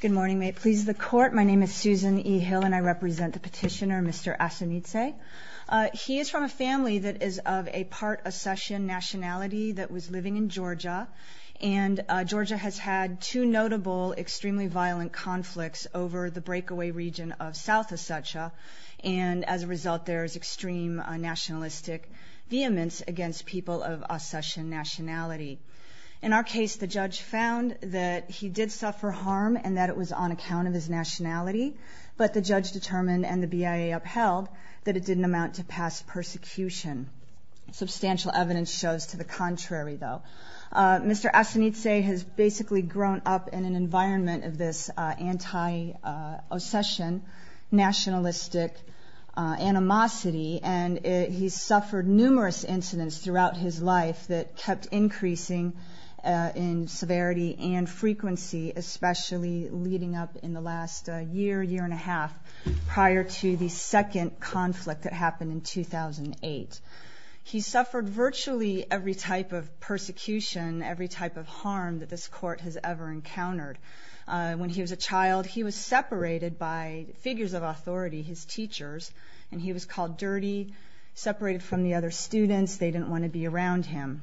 Good morning. May it please the court, my name is Susan E. Hill and I represent the petitioner Mr. Asanidze. He is from a family that is of a part Assyrian nationality that was living in Georgia and Georgia has had two notable extremely violent conflicts over the breakaway region of South Assyria and as a result there is extreme nationalistic vehemence against people of Assyrian nationality. In our case the judge found that he did suffer harm and that it was on account of his nationality but the judge determined and the BIA upheld that it didn't amount to past persecution. Substantial evidence shows to the contrary though. Mr. Asanidze has basically grown up in an environment of this anti-occession nationalistic animosity and he suffered numerous incidents throughout his life that kept increasing in severity and frequency especially leading up in the last year, year and a half prior to the second conflict that happened in 2008. He suffered virtually every type of persecution, every type of harm that this court has ever encountered. When he was a child he was separated by figures of authority, his teachers, and he was called dirty, separated from the other students, they didn't want to be around him.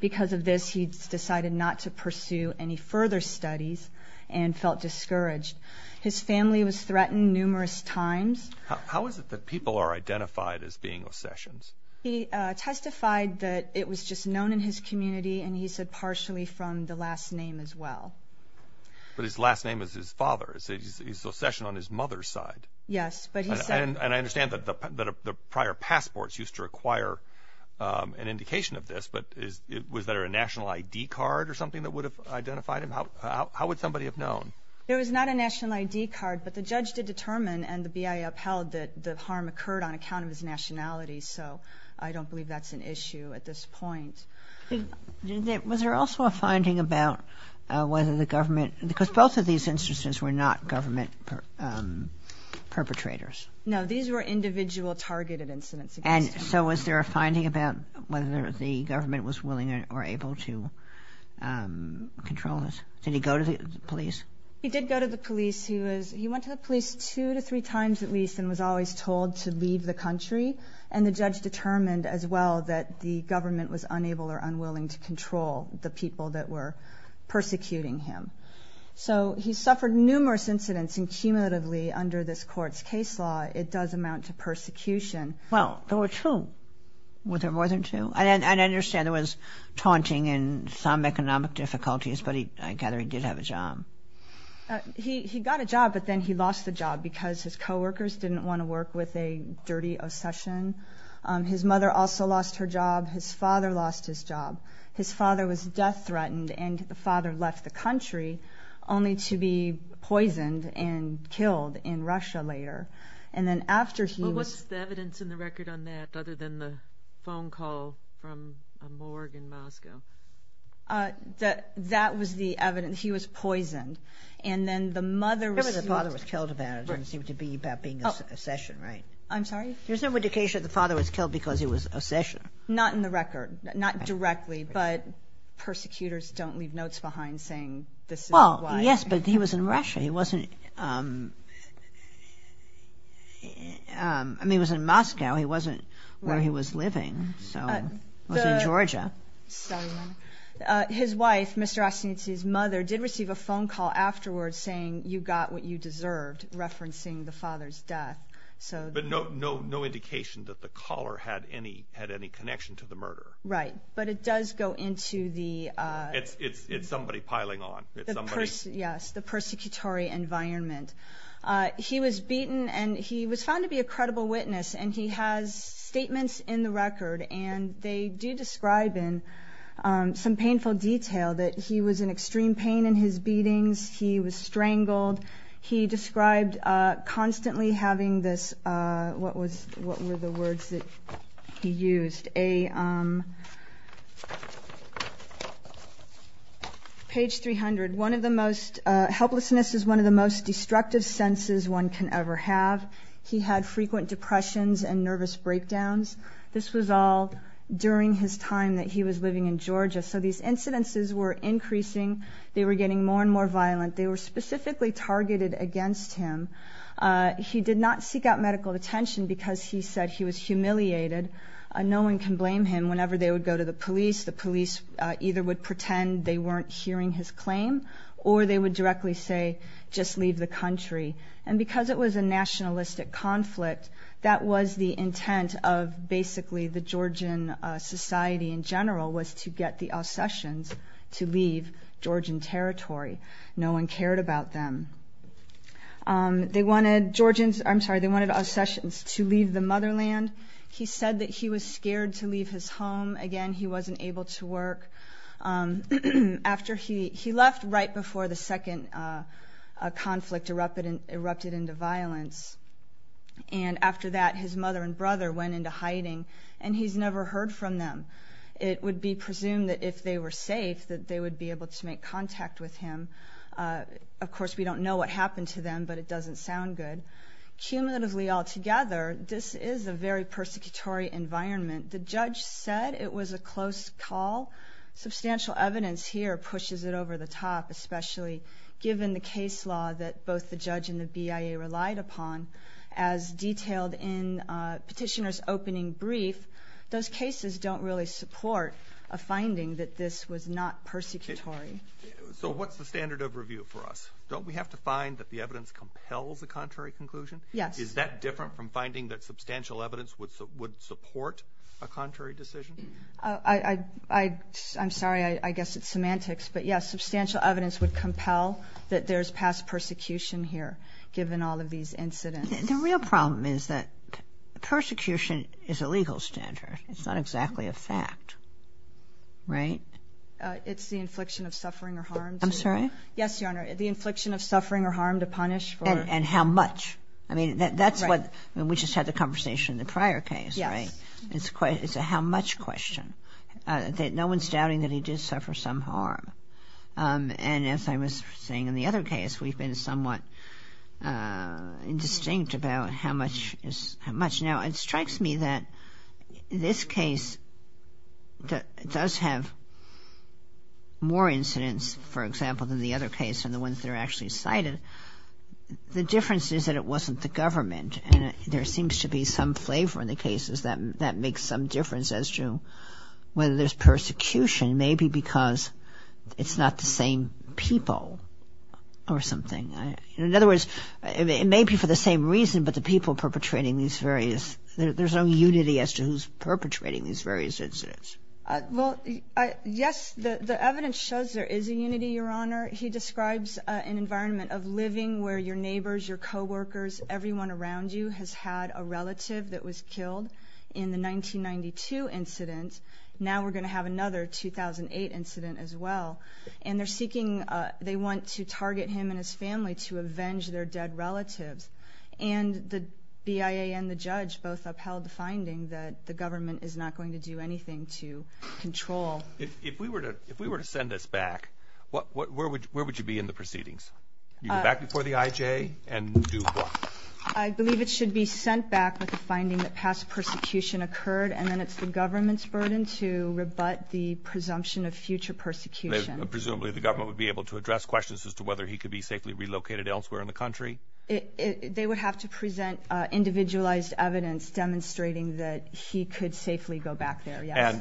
Because of this he decided not to pursue any further studies and felt discouraged. His family was threatened numerous times. How is it that people are identified as being Ossessions? He testified that it was just known in his community and he said partially from the last name as well. But his last name is his father, he's Ossession on his mother's side. Yes. And I understand that the prior passports used to require an indication of this but was there a national ID card or something that would have identified him? How would somebody have known? There was not a national ID card but the judge did determine and the BIA upheld that the harm occurred on account of his nationality so I don't believe that's an issue at this point. Was there also a finding about whether the government, because both of these instances were not government perpetrators. No, these were individual targeted incidents. And so was there a finding about whether the government was willing or able to control this? Did he go to the police? He did go to the police. He went to the police two to three times at least and was always told to leave the country and the judge determined as well that the government was unable or unwilling to control the people that were persecuting him. So he suffered numerous incidents incumulatively under this court's case law. It does amount to persecution. Well, there were two. Were there more than two? I understand there was taunting and some economic difficulties but I gather he did have a job. He got a job but then he lost the job because his coworkers didn't want to work with a dirty obsession. His mother also lost her job. His father lost his job. His father was death threatened and the father left the country only to be poisoned and killed in Russia later. What's the evidence in the record on that other than the phone call from a morgue in Moscow? That was the evidence. He was poisoned and then the mother received... The father was killed about it. It didn't seem to be about being an obsession, right? I'm sorry? There's no indication that the father was killed because it was an obsession. Not in the record. Not directly but persecutors don't leave notes behind saying this is why. Yes, but he was in Russia. He wasn't in Moscow. He wasn't where he was living. He was in Georgia. Sorry, ma'am. His wife, Mr. Asenetsi's mother, did receive a phone call afterwards saying you got what you deserved, referencing the father's death. But no indication that the caller had any connection to the murder. Right, but it does go into the... It's somebody piling on. Yes, the persecutory environment. He was beaten and he was found to be a credible witness, and he has statements in the record, and they do describe in some painful detail that he was in extreme pain in his beatings. He was strangled. He described constantly having this, what were the words that he used? He used page 300. Helplessness is one of the most destructive senses one can ever have. He had frequent depressions and nervous breakdowns. This was all during his time that he was living in Georgia, so these incidences were increasing. They were getting more and more violent. They were specifically targeted against him. He did not seek out medical attention because he said he was humiliated. No one can blame him. Whenever they would go to the police, the police either would pretend they weren't hearing his claim or they would directly say, just leave the country. And because it was a nationalistic conflict, that was the intent of basically the Georgian society in general was to get the Ossetians to leave Georgian territory. No one cared about them. They wanted Ossetians to leave the motherland. He said that he was scared to leave his home. Again, he wasn't able to work. He left right before the second conflict erupted into violence. And after that, his mother and brother went into hiding, and he's never heard from them. It would be presumed that if they were safe, that they would be able to make contact with him. Of course, we don't know what happened to them, but it doesn't sound good. Cumulatively all together, this is a very persecutory environment. The judge said it was a close call. Substantial evidence here pushes it over the top, especially given the case law that both the judge and the BIA relied upon. As detailed in Petitioner's opening brief, those cases don't really support a finding that this was not persecutory. So what's the standard of review for us? Don't we have to find that the evidence compels the contrary conclusion? Yes. Is that different from finding that substantial evidence would support a contrary decision? I'm sorry. I guess it's semantics. But, yes, substantial evidence would compel that there's past persecution here, given all of these incidents. The real problem is that persecution is a legal standard. It's not exactly a fact, right? It's the infliction of suffering or harm. I'm sorry? Yes, Your Honor. The infliction of suffering or harm to punish for... And how much. I mean, that's what... Right. We just had the conversation in the prior case, right? Yes. It's a how much question. No one's doubting that he did suffer some harm. And as I was saying in the other case, we've been somewhat indistinct about how much. Now, it strikes me that this case does have more incidents, for example, than the other case and the ones that are actually cited. The difference is that it wasn't the government, and there seems to be some flavor in the cases that make some difference as to whether there's persecution. Maybe because it's not the same people or something. In other words, it may be for the same reason, but the people perpetrating these various... There's no unity as to who's perpetrating these various incidents. Well, yes. The evidence shows there is a unity, Your Honor. He describes an environment of living where your neighbors, your coworkers, everyone around you has had a relative that was killed in the 1992 incident. Now we're going to have another 2008 incident as well. And they're seeking... They want to target him and his family to avenge their dead relatives. And the BIA and the judge both upheld the finding that the government is not going to do anything to control... If we were to send this back, where would you be in the proceedings? You go back before the IJ and do what? I believe it should be sent back with the finding that past persecution occurred, and then it's the government's burden to rebut the presumption of future persecution. Presumably the government would be able to address questions as to whether he could be safely relocated elsewhere in the country? They would have to present individualized evidence demonstrating that he could safely go back there, yes.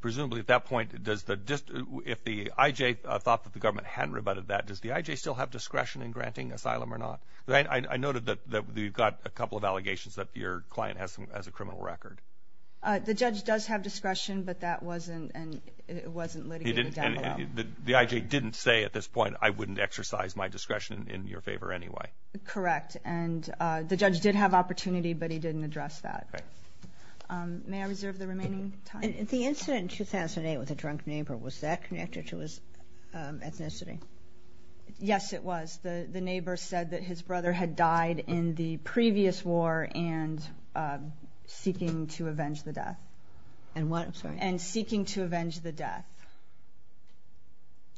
Presumably at that point, if the IJ thought that the government hadn't rebutted that, does the IJ still have discretion in granting asylum or not? I noted that you've got a couple of allegations that your client has a criminal record. The judge does have discretion, but that wasn't litigated down below. The IJ didn't say at this point, I wouldn't exercise my discretion in your favor anyway. Correct. And the judge did have opportunity, but he didn't address that. May I reserve the remaining time? The incident in 2008 with a drunk neighbor, was that connected to his ethnicity? Yes, it was. The neighbor said that his brother had died in the previous war and seeking to avenge the death. And what? I'm sorry. And seeking to avenge the death.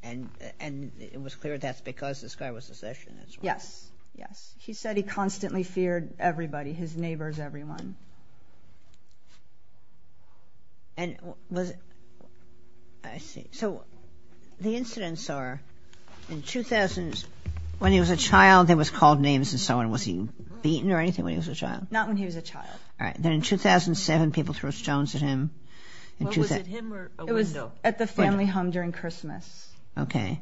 And it was clear that's because this guy was a secessionist. Yes, yes. He said he constantly feared everybody, his neighbors, everyone. And was it, I see. So the incidents are in 2000, when he was a child, there was called names and so on. Was he beaten or anything when he was a child? Not when he was a child. All right. Then in 2007, people threw stones at him. Was it him or a window? It was at the family home during Christmas. Okay.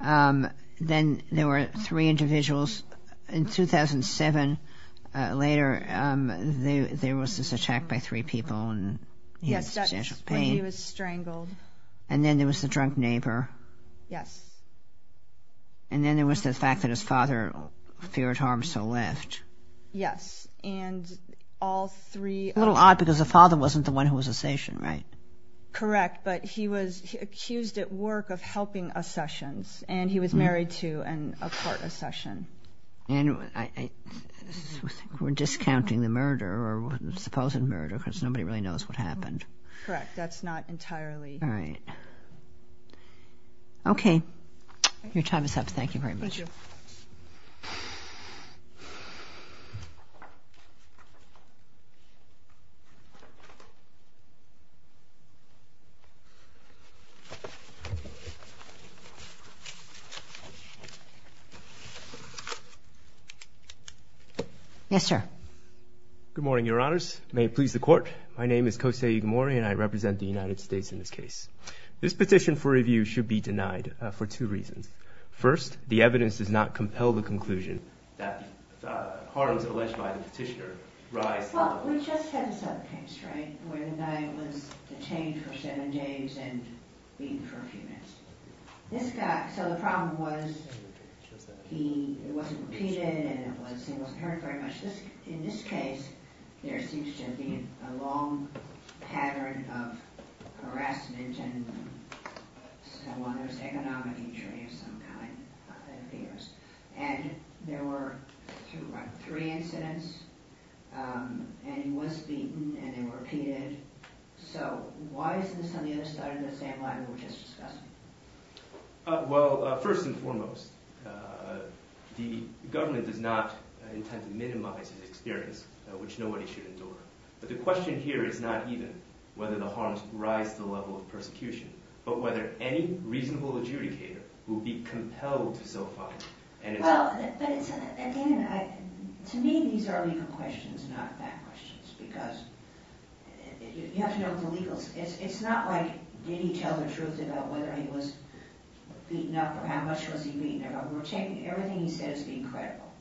Then there were three individuals. In 2007, later, there was this attack by three people. Yes, that's when he was strangled. And then there was the drunk neighbor. Yes. And then there was the fact that his father feared harm so left. Yes. And all three of them. A little odd because the father wasn't the one who was a secession, right? Correct. But he was accused at work of helping a secession. And he was married to a part of a secession. And we're discounting the murder or the supposed murder because nobody really knows what happened. Correct. That's not entirely. All right. Your time is up. Thank you very much. Thank you. Yes, sir. Good morning, Your Honors. May it please the Court. My name is Kose Igamori, and I represent the United States in this case. This petition for review should be denied for two reasons. First, the evidence does not compel the conclusion that the harms alleged by the petitioner rise. Well, we just had this other case, right, where the guy was detained for seven days and beaten for a few minutes. So the problem was it wasn't repeated and it wasn't heard very much. In this case, there seems to be a long pattern of harassment and there's economic injury of some kind that appears. And there were three incidents, and he was beaten and they were repeated. So why is this on the other side of the same line we were just discussing? Well, first and foremost, the government does not intend to minimize his experience, which nobody should endure. But the question here is not even whether the harms rise to the level of persecution, but whether any reasonable adjudicator will be compelled to so fine. Well, but again, to me, these are legal questions, not fact questions, because you have to know the legals. It's not like did he tell the truth about whether he was beaten up or how much was he beaten up. We're taking everything he said as being credible,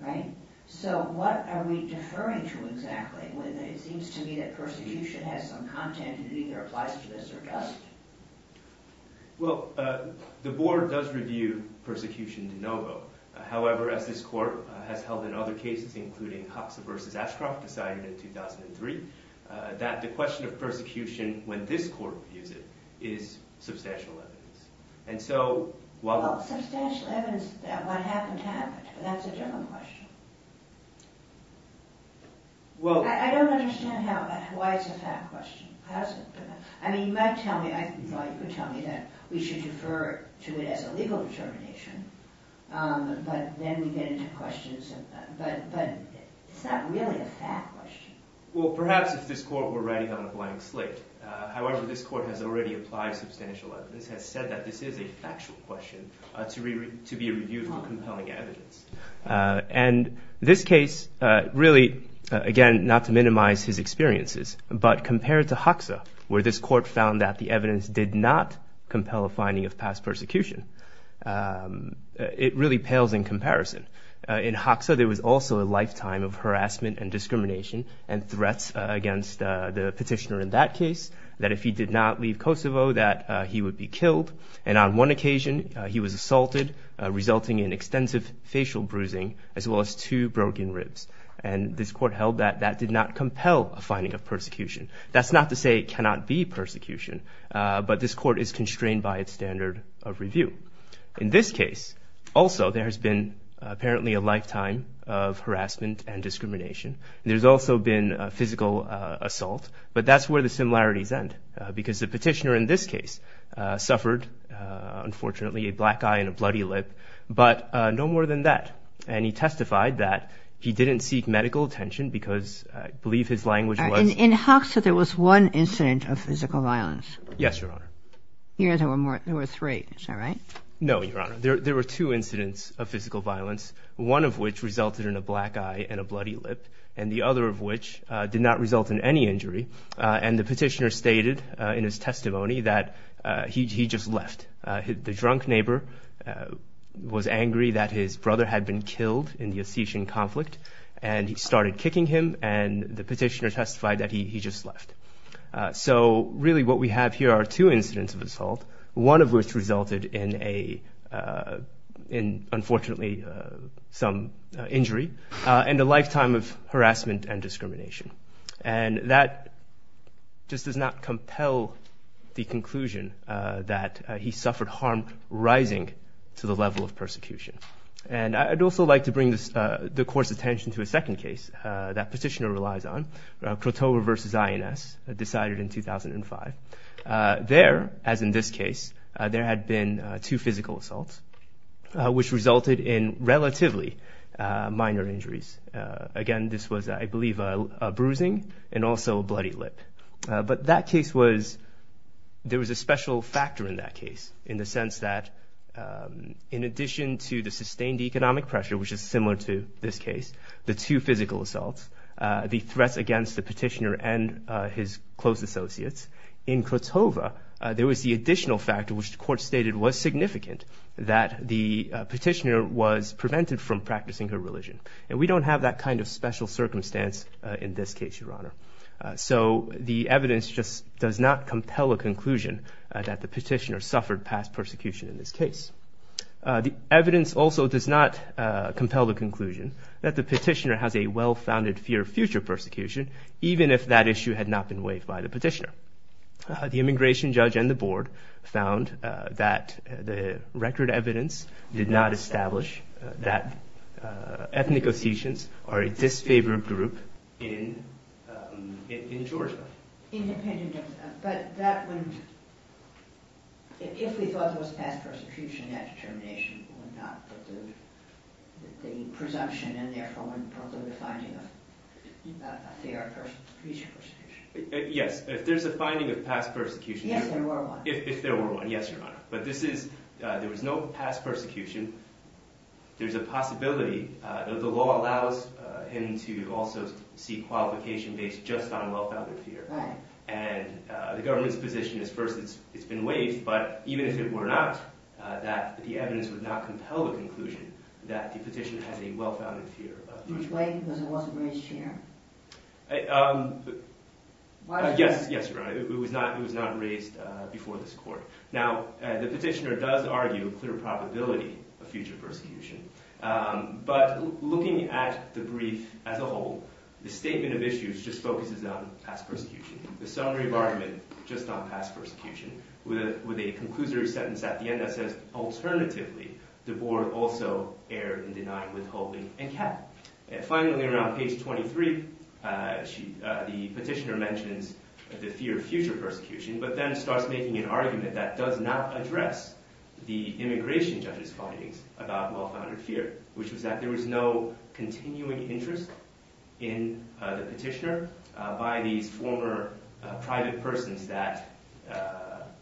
right? So what are we deferring to exactly? It seems to me that persecution has some content that either applies to this or doesn't. Well, the board does review persecution de novo. However, as this court has held in other cases, including Hoxha v. Ashcroft decided in 2003, that the question of persecution, when this court reviews it, is substantial evidence. Well, substantial evidence that what happened happened. That's a different question. I don't understand why it's a fact question. I mean, you might tell me that we should defer to it as a legal determination, but then we get into questions, but it's not really a fact question. Well, perhaps if this court were writing on a blank slate. However, this court has already applied substantial evidence, has said that this is a factual question to be reviewed for compelling evidence. And this case really, again, not to minimize his experiences, but compared to Hoxha, where this court found that the evidence did not compel a finding of past persecution, it really pales in comparison. In Hoxha, there was also a lifetime of harassment and discrimination and threats against the petitioner in that case, that if he did not leave Kosovo, that he would be killed. And on one occasion, he was assaulted, resulting in extensive facial bruising, as well as two broken ribs. And this court held that that did not compel a finding of persecution. That's not to say it cannot be persecution, but this court is constrained by its standard of review. In this case, also, there has been apparently a lifetime of harassment and discrimination. There's also been physical assault, but that's where the similarities end, because the petitioner in this case suffered, unfortunately, a black eye and a bloody lip, but no more than that. And he testified that he didn't seek medical attention because I believe his language was – In Hoxha, there was one incident of physical violence. Yes, Your Honor. Here, there were three. Is that right? No, Your Honor. There were two incidents of physical violence, one of which resulted in a black eye and a bloody lip, and the other of which did not result in any injury. And the petitioner stated in his testimony that he just left. The drunk neighbor was angry that his brother had been killed in the Assyrian conflict, and he started kicking him, and the petitioner testified that he just left. So, really, what we have here are two incidents of assault, one of which resulted in, unfortunately, some injury, and that just does not compel the conclusion that he suffered harm rising to the level of persecution. And I'd also like to bring the Court's attention to a second case that petitioner relies on, Krotova v. INS, decided in 2005. There, as in this case, there had been two physical assaults, which resulted in relatively minor injuries. Again, this was, I believe, a bruising and also a bloody lip. But that case was – there was a special factor in that case in the sense that, in addition to the sustained economic pressure, which is similar to this case, the two physical assaults, the threats against the petitioner and his close associates, in Krotova, there was the additional factor, which the Court stated was significant, that the petitioner was prevented from practicing her religion. And we don't have that kind of special circumstance in this case, Your Honor. So the evidence just does not compel a conclusion that the petitioner suffered past persecution in this case. The evidence also does not compel the conclusion that the petitioner has a well-founded fear of future persecution, even if that issue had not been waived by the petitioner. The immigration judge and the Board found that the record evidence did not establish that ethnic Ossetians are a disfavored group in Georgia. Independent of – but that wouldn't – if we thought there was past persecution, that determination would not put the presumption and, therefore, wouldn't put the finding of a fair future persecution. Yes. If there's a finding of past persecution... Yes, there were one. If there were one, yes, Your Honor. But this is – there was no past persecution. There's a possibility that the law allows him to also seek qualification based just on well-founded fear. Right. And the government's position is, first, it's been waived, but even if it were not, that the evidence would not compel the conclusion that the petitioner has a well-founded fear of future persecution. Which way? Because it wasn't raised here. Yes, Your Honor. It was not raised before this Court. Now, the petitioner does argue a clear probability of future persecution, but looking at the brief as a whole, the statement of issues just focuses on past persecution. The summary of argument, just on past persecution, with a conclusory sentence at the end that says, alternatively, the Board also erred in denying withholding and cap. Finally, around page 23, the petitioner mentions the fear of future persecution, but then starts making an argument that does not address the immigration judge's findings about well-founded fear, which was that there was no continuing interest in the petitioner by these former private persons that – that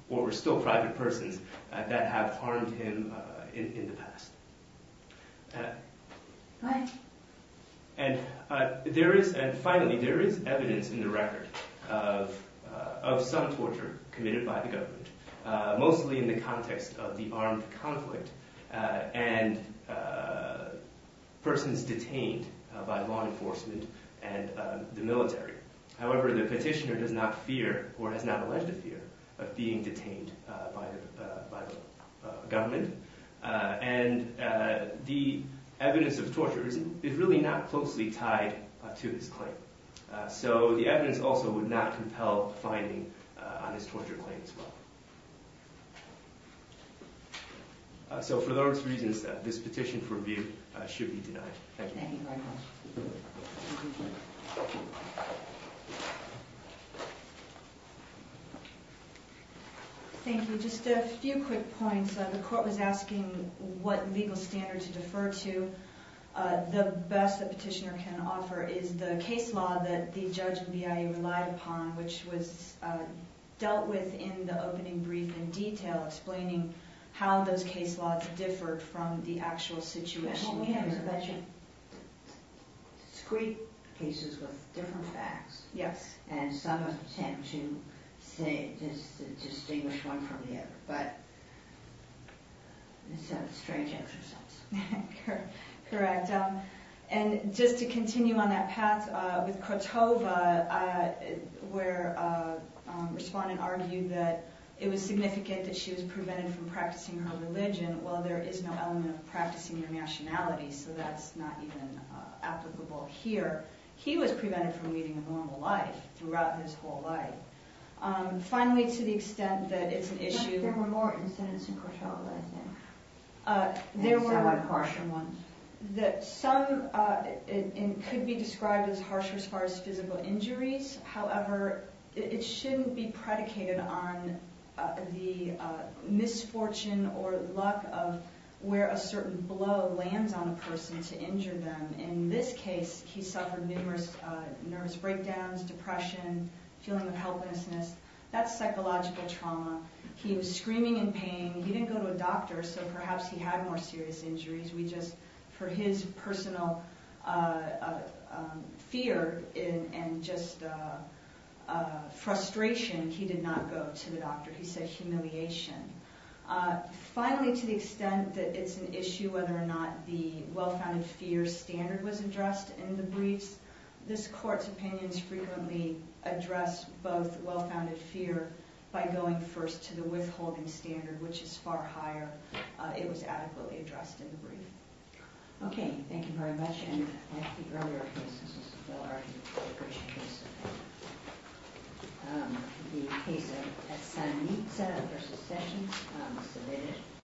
had harmed him in the past. Right. And there is – and finally, there is evidence in the record of some torture committed by the government, mostly in the context of the armed conflict and persons detained by law enforcement and the military. However, the petitioner does not fear or has not alleged a fear of being detained by the government. And the evidence of torture is really not closely tied to his claim. So the evidence also would not compel finding on his torture claim as well. So for those reasons, this petition for review should be denied. Thank you. Thank you. Thank you. Just a few quick points. The court was asking what legal standard to defer to. The best the petitioner can offer is the case law that the judge and BIA relied upon, which was dealt with in the opening brief in detail, explaining how those case laws differed from the actual situation. And what we have is a bunch of discrete cases with different facts. Yes. And some attempt to say – just to distinguish one from the other. But it's a strange exercise. Correct. And just to continue on that path, with Kotova, where a respondent argued that it was significant that she was prevented from practicing her religion while there is no element of practicing her nationality. So that's not even applicable here. He was prevented from leading a normal life throughout his whole life. Finally, to the extent that it's an issue – There were more incidents in Kotova, I think. There were – How about harsher ones? Some could be described as harsher as far as physical injuries. However, it shouldn't be predicated on the misfortune or luck of where a certain blow lands on a person to injure them. In this case, he suffered numerous nervous breakdowns, depression, feeling of helplessness. That's psychological trauma. He was screaming in pain. He didn't go to a doctor, so perhaps he had more serious injuries. We just – For his personal fear and just frustration, he did not go to the doctor. He said humiliation. Finally, to the extent that it's an issue whether or not the well-founded fear standard was addressed in the briefs, this Court's opinions frequently address both well-founded fear by going first to the withholding standard, which is far higher. It was adequately addressed in the brief. Okay. Thank you very much. And like the earlier cases, this is still our integration case. Thank you.